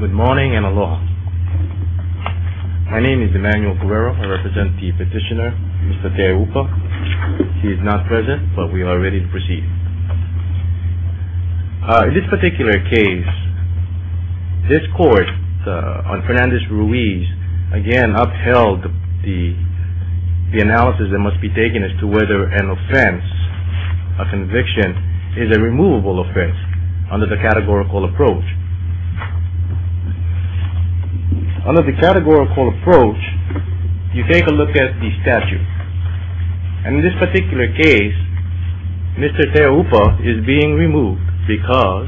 Good morning and aloha. My name is Emmanuel Correro. I represent the petitioner, Mr. Te Aupa. He is not present, but we are ready to proceed. In this particular case, this court, on Fernandez-Ruiz, again upheld the analysis that must be taken as to whether an offense, a conviction, is a removable offense under the categorical approach. Under the categorical approach, you take a look at the statute. And in this particular case, Mr. Te Aupa is being removed because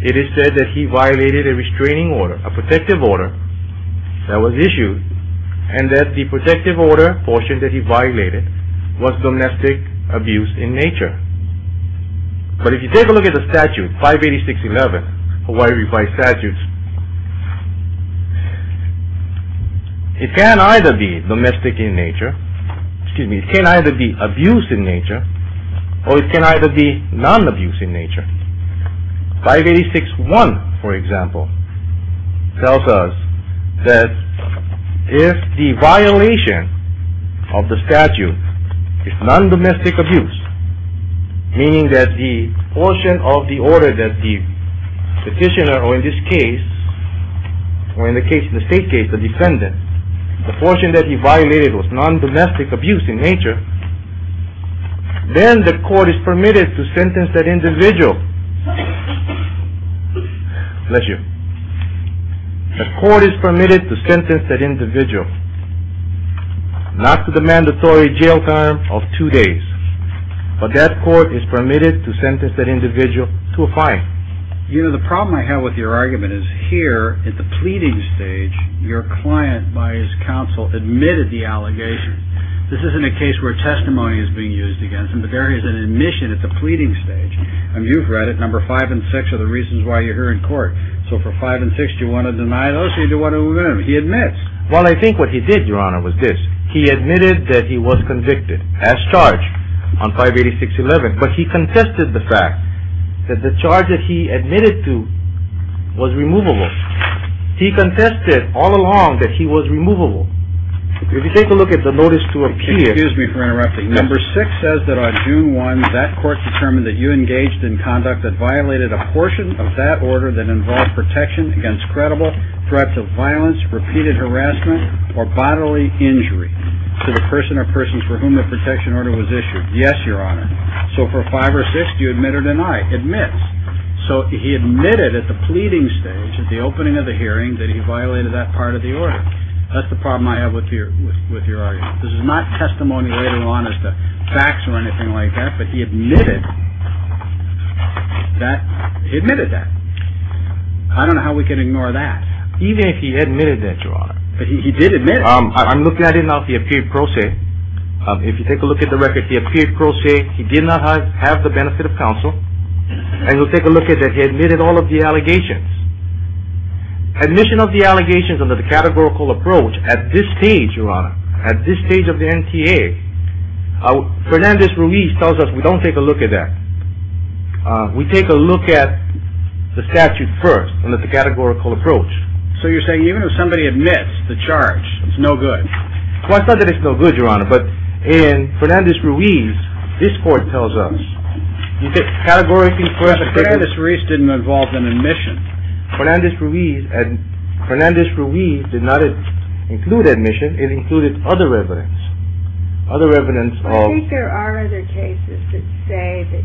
it is said that he violated a restraining order, a protective order, that was domestic abuse in nature. But if you take a look at the statute, 586-11, Hawaii Revised Statutes, it can either be domestic in nature, excuse me, it can either be abuse in nature, or it can either be non-abuse in nature. 586-1, for example, if non-domestic abuse, meaning that the portion of the order that the petitioner, or in this case, or in the state case, the defendant, the portion that he violated was non-domestic abuse in nature, then the court is permitted to But that court is permitted to sentence that individual to a fine. You know, the problem I have with your argument is here, at the pleading stage, your client, by his counsel, admitted the allegation. This isn't a case where testimony is being used against him, but there is an admission at the pleading stage. And you've read it, number five and six are the reasons why you're here in court. So for five and six, do you Well, I think what he did, your honor, was this. He admitted that he was convicted, as charged, on 586-11, but he contested the fact that the charge that he admitted to was removable. He contested all along that he was removable. If you take a look at the notice to appear, Excuse me for interrupting. Number six says that on June 1, that court determined that you engaged in conduct that violated a portion of that harassment or bodily injury to the person or persons for whom the protection order was issued. Yes, your honor. So for five or six, do you admit or deny? Admits. So he admitted at the pleading stage, at the opening of the hearing, that he violated that part of the order. That's the problem I have with your argument. This is not testimony later on as to facts or anything like that, but he admitted that. I don't know how we can ignore that. Even if he admitted that, your honor. But he did admit it. I'm looking at it now if he appeared pro se. If you take a look at the record, if he appeared pro se, he did not have the benefit of counsel, and you'll take a look at that he admitted all of the allegations. Admission of the allegations under the categorical approach at this stage, your honor, at this stage of the NTA, Fernandez-Ruiz tells us we don't take a look at that. We take a look at the evidence. So you're saying even if somebody admits the charge, it's no good. Well, it's not that it's no good, your honor, but in Fernandez-Ruiz, this court tells us. But Fernandez-Ruiz didn't involve an admission. Fernandez-Ruiz did not include admission. It included other evidence. I think there are other cases that say that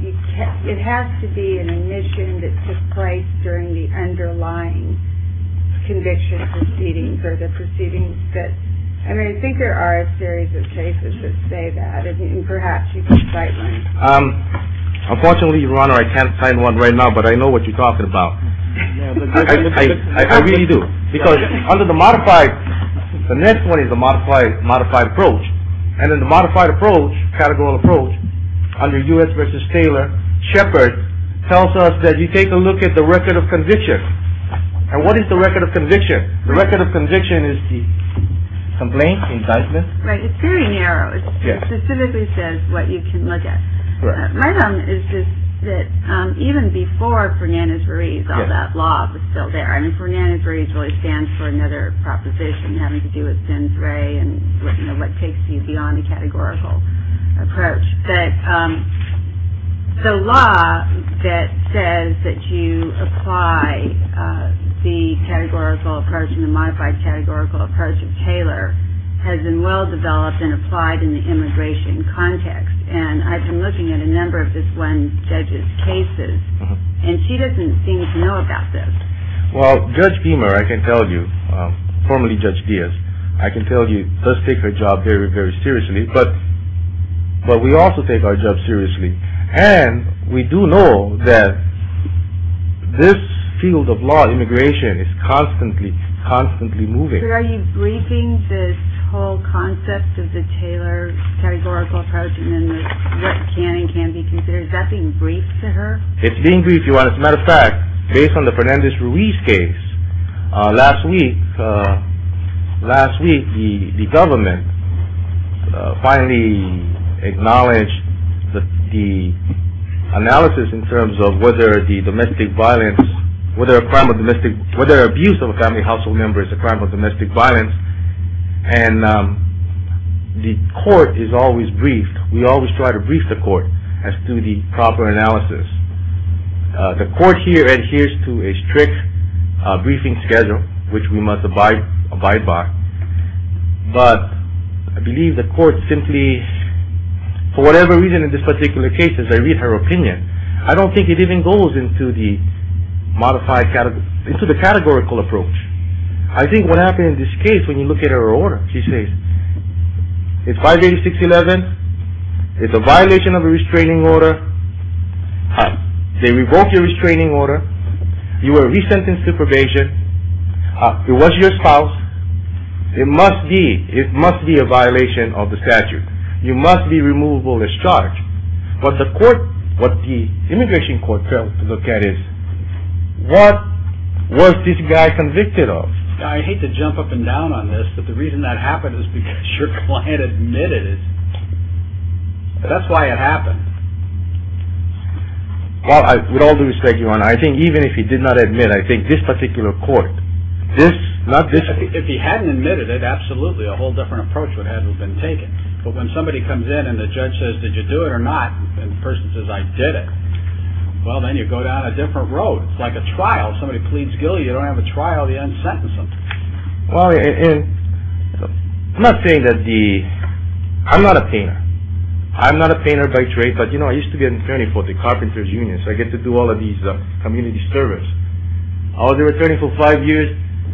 it has to be an admission that took place during the underlying conviction proceedings. I mean, I think there are a series of cases that say that, and perhaps you can cite one. Unfortunately, your honor, I can't cite one right now, but I know what you're talking about. I really do. Because under the modified – the next one is a modified approach. And in the modified approach, categorical approach, under U.S. v. Taylor, Shepard tells us that you take a look at the record of conviction. And what is the record of conviction? The record of conviction is the complaint, indictment. Right. It's very narrow. It specifically says what you can look at. Right on. It's just that even before Fernandez-Ruiz, all that law was still there. I mean, Fernandez-Ruiz really stands for another proposition having to do with Sins Re and, you know, what takes you beyond a categorical approach. But the law that says that you apply the categorical approach and the modified categorical approach of Taylor has been well developed and applied in the immigration context. And I've been looking at a number of this one judge's cases, and she doesn't seem to know about this. Well, Judge Beamer, I can tell you, formerly Judge Diaz, I can tell you, does take her job very, very seriously. But we also take our job seriously. And we do know that this field of law, immigration, is constantly, constantly moving. But are you briefing this whole concept of the Taylor categorical approach and then what can and can't be considered? Is that being briefed to her? It's being briefed to her. As a matter of fact, based on the Fernandez-Ruiz case, last week the government finally acknowledged the analysis in terms of whether the domestic violence, whether a crime of domestic, whether abuse of a family household member is a crime of domestic violence. And the court is always briefed. We always try to brief the court as to the proper analysis. The court here adheres to a strict briefing schedule, which we must abide by. But I believe the court simply, for whatever reason in this particular case, as I read her opinion, I don't think it even goes into the categorical approach. I think what happened in this case, when you look at her order, she says, it's 586.11, it's a violation of the restraining order, they revoke your But the court, what the immigration court failed to look at is, what was this guy convicted of? I hate to jump up and down on this, but the reason that happened is because your client admitted it. That's why it happened. Well, with all due respect, Your Honor, I think even if he did not admit it, I think this particular court, this, not this one. If he hadn't admitted it, absolutely a whole different approach would have been taken. But when somebody comes in and the judge says, did you do it or not? And the person says, I did it. Well, then you go down a different road. It's like a trial. Somebody pleads guilty, you don't have a trial, you un-sentence them. Well, I'm not saying that the, I'm not a painter. I'm not a painter by trade, but you know, I used to be an attorney for the Carpenters Union, so I get to do all of these community service. I was their attorney for five years,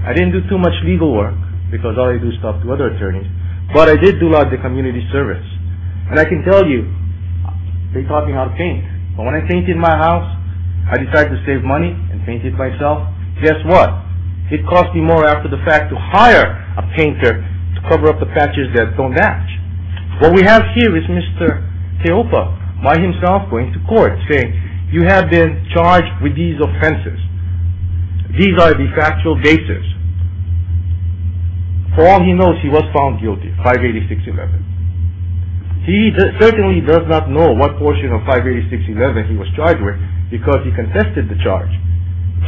I didn't do too much legal work, because all I do is talk to other attorneys, but I did do a lot of the community service. And I can tell you, they taught me how to paint. But when I painted my house, I decided to save money and paint it myself. Guess what? It cost me more after the fact to hire a painter to cover up the patches that don't match. What we have here is Mr. Teopa, by himself, going to court, saying, you have been charged with these offenses. These are the factual cases. For all he knows, he was found guilty, 58611. He certainly does not know what portion of 58611 he was charged with, because he contested the charge.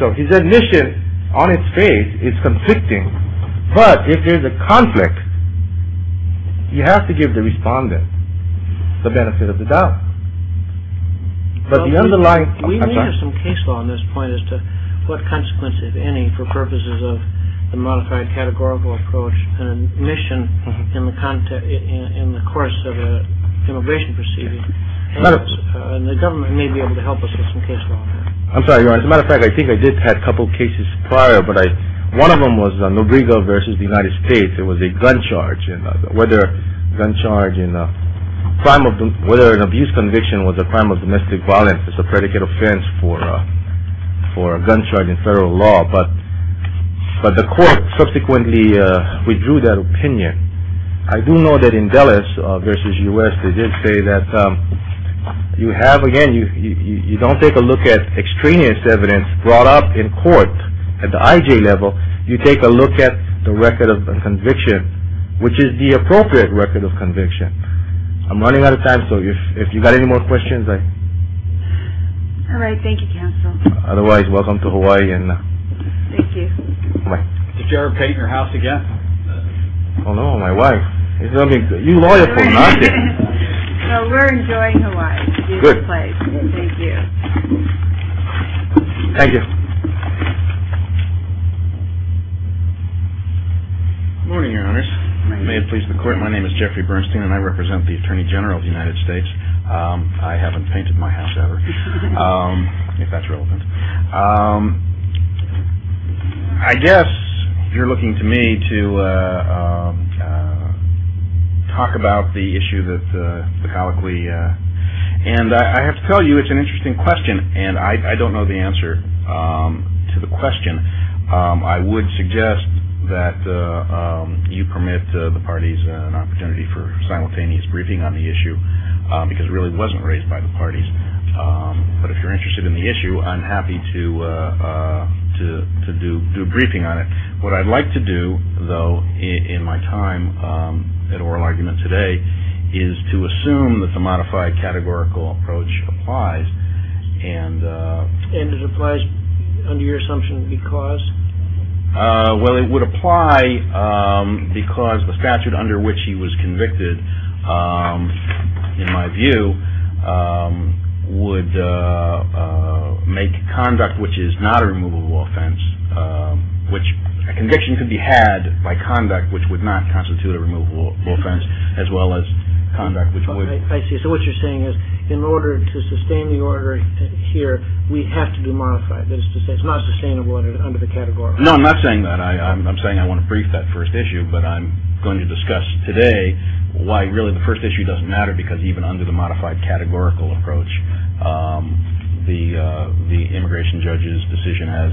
So his admission, on its face, is conflicting, but if there's a conflict, he has to give the respondent the benefit of the doubt. We may have some case law on this point as to what consequences, if any, for purposes of the modified categorical approach and admission in the course of an immigration proceeding, and the government may be able to help us with some case law on that. I'm sorry, Your Honor. As a matter of fact, I think I did have a couple of cases prior, but one of them was Nobrigo v. United States. It was a gun charge. Whether an abuse conviction was a crime of domestic violence is a predicate offense for a gun charge in federal law, but the court subsequently withdrew that opinion. I do know that in Dulles v. U.S., they did say that you have, again, you don't take a look at extraneous evidence brought up in court at the I.J. level. You take a look at the record of conviction, which is the appropriate record of conviction. I'm running out of time, so if you've got any more questions, I... All right. Thank you, counsel. Otherwise, welcome to Hawaii, and... Thank you. Bye. Did you ever paint your house again? Oh, no. My wife. You're loyal to me, aren't you? No, we're enjoying Hawaii. It's a beautiful place. Good. Thank you. Thank you. Good morning, Your Honors. Good morning. May it please the Court, my name is Jeffrey Bernstein, and I represent the Attorney General of the United States. I haven't painted my house ever, if that's relevant. I guess you're looking to me to talk about the issue that the colloquy... And I have to tell you, it's an interesting question, and I don't know the answer to the question. I would suggest that you permit the parties an opportunity for simultaneous briefing on the issue, because it really wasn't raised by the parties. But if you're interested in the issue, I'm happy to do a briefing on it. What I'd like to do, though, in my time at Oral Argument today, is to assume that the modified categorical approach applies, and... And it applies under your assumption because? Well, it would apply because the statute under which he was convicted, in my view, would make conduct which is not a removable offense, which a conviction could be had by conduct which would not constitute a removable offense, as well as conduct which would... I see. So what you're saying is in order to sustain the order here, we have to do modified. That is to say, it's not sustainable under the categorical. No, I'm not saying that. I'm saying I want to brief that first issue, but I'm going to discuss today why really the first issue doesn't matter, because even under the modified categorical approach, the immigration judge's decision as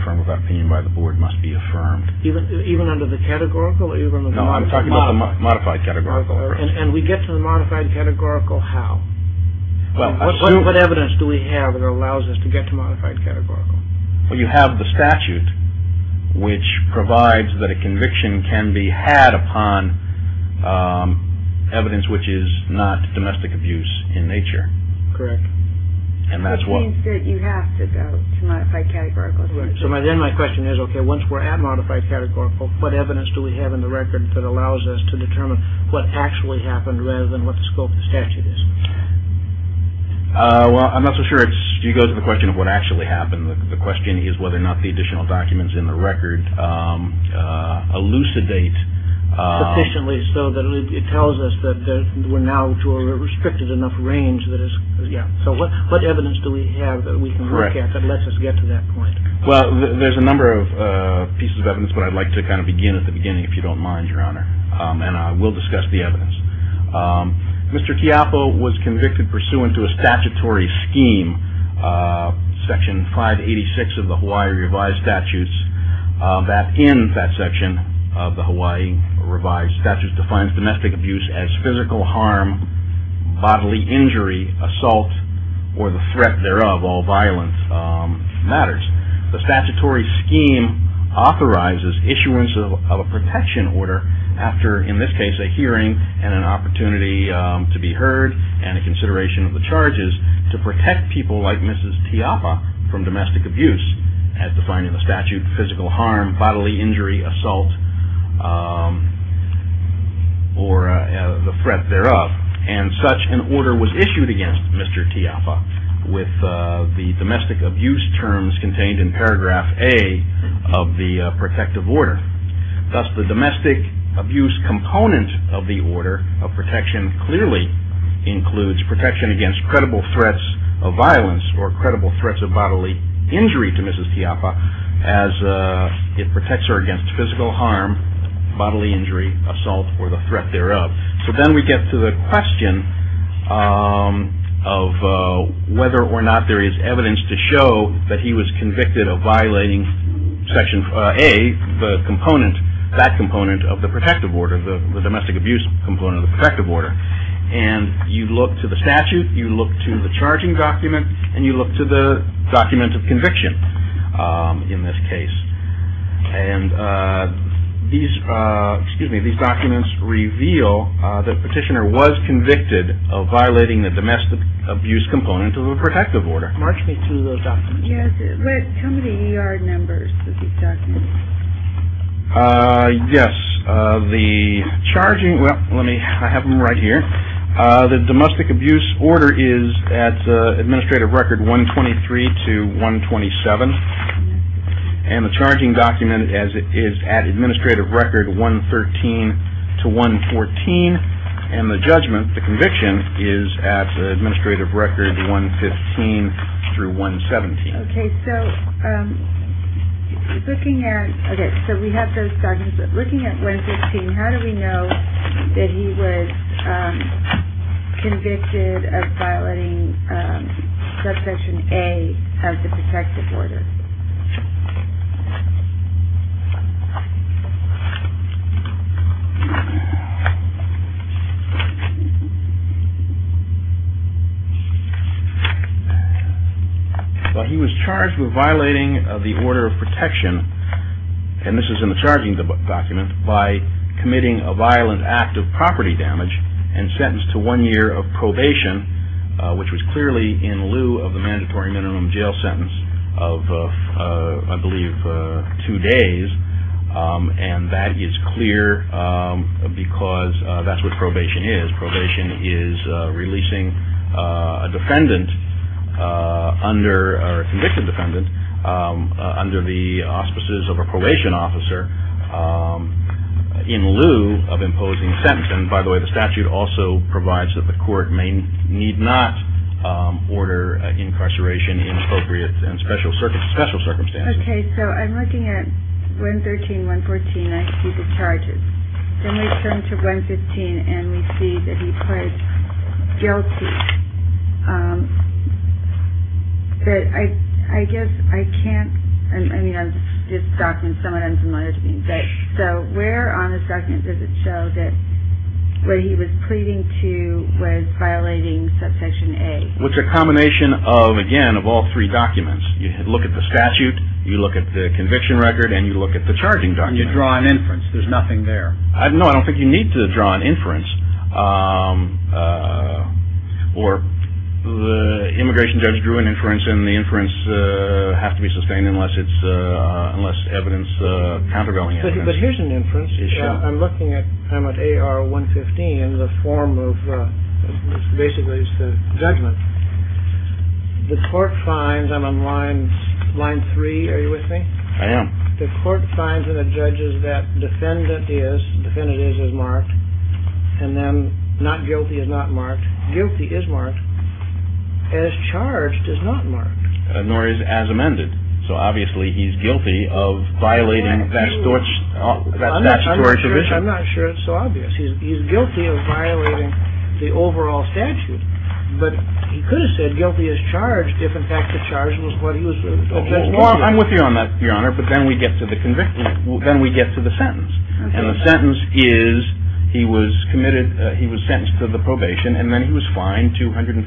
affirmed without opinion by the board must be affirmed. Even under the categorical? No, I'm talking about the modified categorical. And we get to the modified categorical how? What evidence do we have that allows us to get to modified categorical? Well, you have the statute which provides that a conviction can be had upon evidence which is not domestic abuse in nature. Correct. And that's what... That means that you have to go to modified categorical. So then my question is, okay, once we're at modified categorical, what evidence do we have in the record that allows us to determine what actually happened rather than what the scope of the statute is? Well, I'm not so sure. You go to the question of what actually happened. The question is whether or not the additional documents in the record elucidate sufficiently so that it tells us that we're now to a restricted enough range. So what evidence do we have that we can look at that lets us get to that point? Well, there's a number of pieces of evidence, but I'd like to kind of begin at the beginning if you don't mind, Your Honor. And I will discuss the evidence. Mr. Tiapo was convicted pursuant to a statutory scheme, Section 586 of the Hawaii Revised Statutes, that in that section of the Hawaii Revised Statutes defines domestic abuse as physical harm, bodily injury, assault, or the threat thereof, all violent matters. The statutory scheme authorizes issuance of a protection order after, in this case, a hearing and an opportunity to be heard and a consideration of the charges to protect people like Mrs. Tiapo from domestic abuse, as defined in the statute, physical harm, bodily injury, assault, or the threat thereof. And such an order was issued against Mr. Tiapo with the domestic abuse terms contained in paragraph A of the protective order. Thus, the domestic abuse component of the order of protection clearly includes protection against credible threats of violence or credible threats of bodily injury to Mrs. Tiapo as it protects her against physical harm, bodily injury, assault, or the threat thereof. So then we get to the question of whether or not there is evidence to show that he was convicted of violating Section A, the component, that component of the protective order, the domestic abuse component of the protective order. And you look to the statute, you look to the charging document, and you look to the document of conviction in this case. And these, excuse me, these documents reveal that the petitioner was convicted of violating the domestic abuse component of the protective order. March me through those documents. Yes, tell me the E.R. numbers of these documents. Yes, the charging, well, let me, I have them right here. The domestic abuse order is at the administrative record 123 to 127. And the charging document is at administrative record 113 to 114. And the judgment, the conviction, is at the administrative record 115 through 117. Okay, so looking at, okay, so we have those documents. Looking at 115, how do we know that he was convicted of violating Subsection A of the protective order? Well, he was charged with violating the order of protection, and this is in the charging document, by committing a violent act of property damage and sentenced to one year of probation, which was clearly in lieu of the mandatory minimum jail sentence of, I believe, two days. And that is clear because that's what probation is. Probation is releasing a defendant under, or a convicted defendant, under the auspices of a probation officer in lieu of imposing a sentence. And, by the way, the statute also provides that the court may need not order incarceration in appropriate and special circumstances. Okay, so I'm looking at 113, 114. I see the charges. Then we turn to 115, and we see that he was guilty. But I guess I can't, I mean, I'm just, this document is somewhat unfamiliar to me. So where on the second does it show that what he was pleading to was violating Subsection A? Well, it's a combination of, again, of all three documents. You look at the statute, you look at the conviction record, and you look at the charging document. And you draw an inference. There's nothing there. No, I don't think you need to draw an inference. Or the immigration judge drew an inference, and the inference has to be sustained unless it's, unless evidence, countervailing evidence. But here's an inference. I'm looking at, I'm at AR 115, the form of, basically it's the judgment. The court finds, I'm on line three, are you with me? I am. The court finds in the judges that defendant is, defendant is, is marked. And then not guilty is not marked. Guilty is marked. As charged is not marked. Nor is as amended. So obviously he's guilty of violating statutory provision. I'm not sure it's so obvious. He's guilty of violating the overall statute. But he could have said guilty as charged if, in fact, the charge was what he was. I'm with you on that, Your Honor. But then we get to the conviction. Then we get to the sentence. And the sentence is he was committed, he was sentenced to the probation, and then he was fined $250.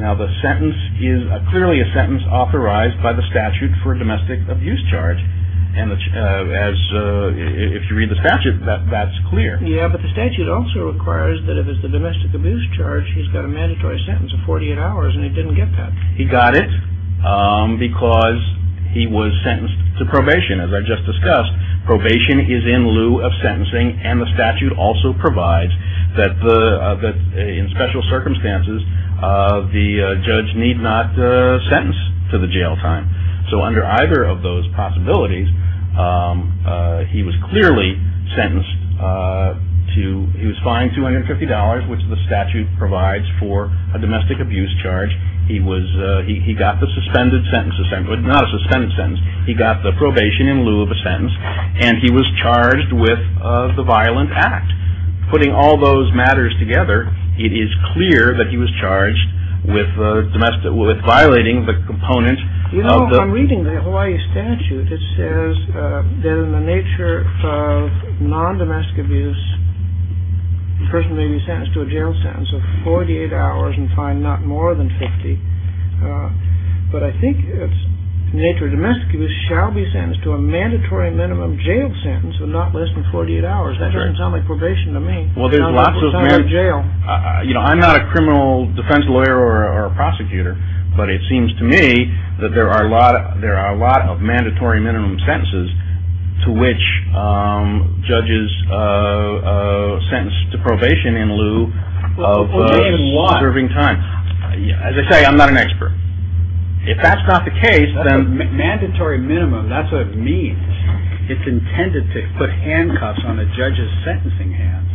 Now the sentence is clearly a sentence authorized by the statute for a domestic abuse charge. And as, if you read the statute, that's clear. Yeah, but the statute also requires that if it's a domestic abuse charge, he's got a mandatory sentence of 48 hours, and he didn't get that. He got it because he was sentenced to probation, as I just discussed. Probation is in lieu of sentencing. And the statute also provides that the, that in special circumstances, the judge need not sentence to the jail time. So under either of those possibilities, he was clearly sentenced to, he was fined $250, which the statute provides for a domestic abuse charge. He was, he got the suspended sentence, not a suspended sentence. He got the probation in lieu of a sentence, and he was charged with the violent act. Putting all those matters together, it is clear that he was charged with violating the component of the... You know, I'm reading the Hawaii statute. It says that in the nature of non-domestic abuse, the person may be sentenced to a jail sentence of 48 hours and fined not more than 50. But I think it's, in the nature of domestic abuse, shall be sentenced to a mandatory minimum jail sentence of not less than 48 hours. That doesn't sound like probation to me. Well, there's lots of... It's not like jail. You know, I'm not a criminal defense lawyer or a prosecutor, but it seems to me that there are a lot of mandatory minimum sentences to which judges sentence to probation in lieu of preserving time. As I say, I'm not an expert. If that's not the case, then... Mandatory minimum, that's what it means. It's intended to put handcuffs on a judge's sentencing hands.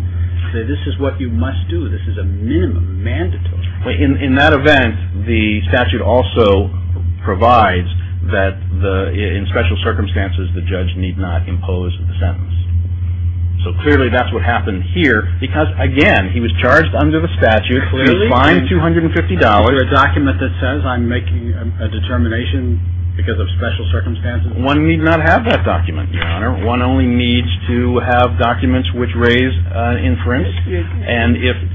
This is what you must do. This is a minimum, mandatory. In that event, the statute also provides that in special circumstances, the judge need not impose the sentence. So clearly that's what happened here because, again, he was charged under the statute. He was fined $250. Is there a document that says I'm making a determination because of special circumstances? One need not have that document, Your Honor. One only needs to have documents which raise inference.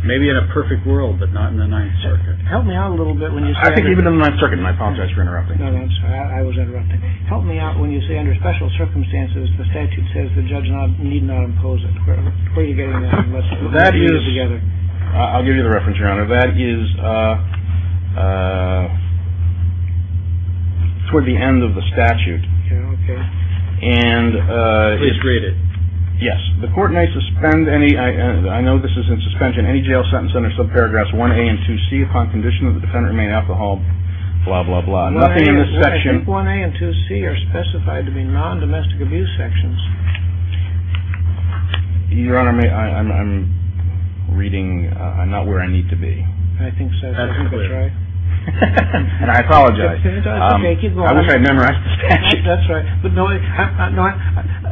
Maybe in a perfect world, but not in the Ninth Circuit. Help me out a little bit when you say... I think even in the Ninth Circuit, and I apologize for interrupting. No, no, I'm sorry. I was interrupting. Help me out when you say under special circumstances, the statute says the judge need not impose it. Where are you getting that? That is... I'll give you the reference, Your Honor. That is toward the end of the statute. Okay. Please read it. Yes. The court may suspend any... I know this is in suspension. Any jail sentence under subparagraphs 1A and 2C upon condition that the defendant remain alcohol... blah, blah, blah. Nothing in this section... 1A and 2C are specified to be non-domestic abuse sections. Your Honor, I'm reading... I'm not where I need to be. I think so. I think that's right. And I apologize. That's okay. Keep going. I wish I had memorized the statute. That's right.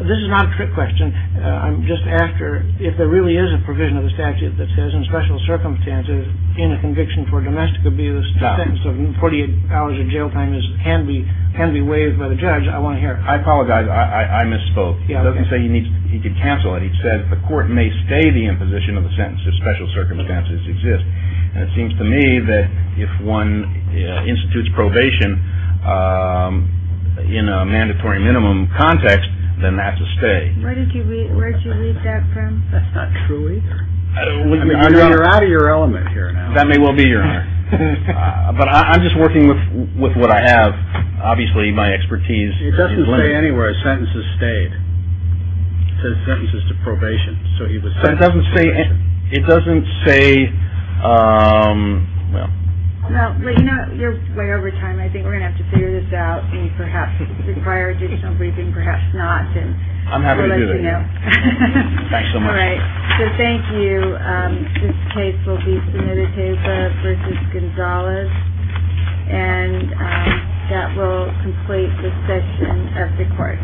This is not a trick question. I'm just after if there really is a provision of the statute that says in special circumstances, in a conviction for domestic abuse, the sentence of 48 hours of jail time can be waived by the judge. I want to hear it. I apologize. I misspoke. It doesn't say he could cancel it. He said the court may stay the imposition of the sentence if special circumstances exist. And it seems to me that if one institutes probation in a mandatory minimum context, then that's a stay. Where did you read that from? That's not true either. You're out of your element here now. That may well be, Your Honor. But I'm just working with what I have. Obviously, my expertise is limited. It doesn't say anywhere, sentences stayed. It says sentences to probation. It doesn't say, well. Well, you know, you're way over time. I think we're going to have to figure this out and perhaps require additional briefing, perhaps not. I'm happy to do that. We'll let you know. Thanks so much. All right. So, thank you. This case will be Sumida-Teva v. Gonzalez. And that will complete the session of the court.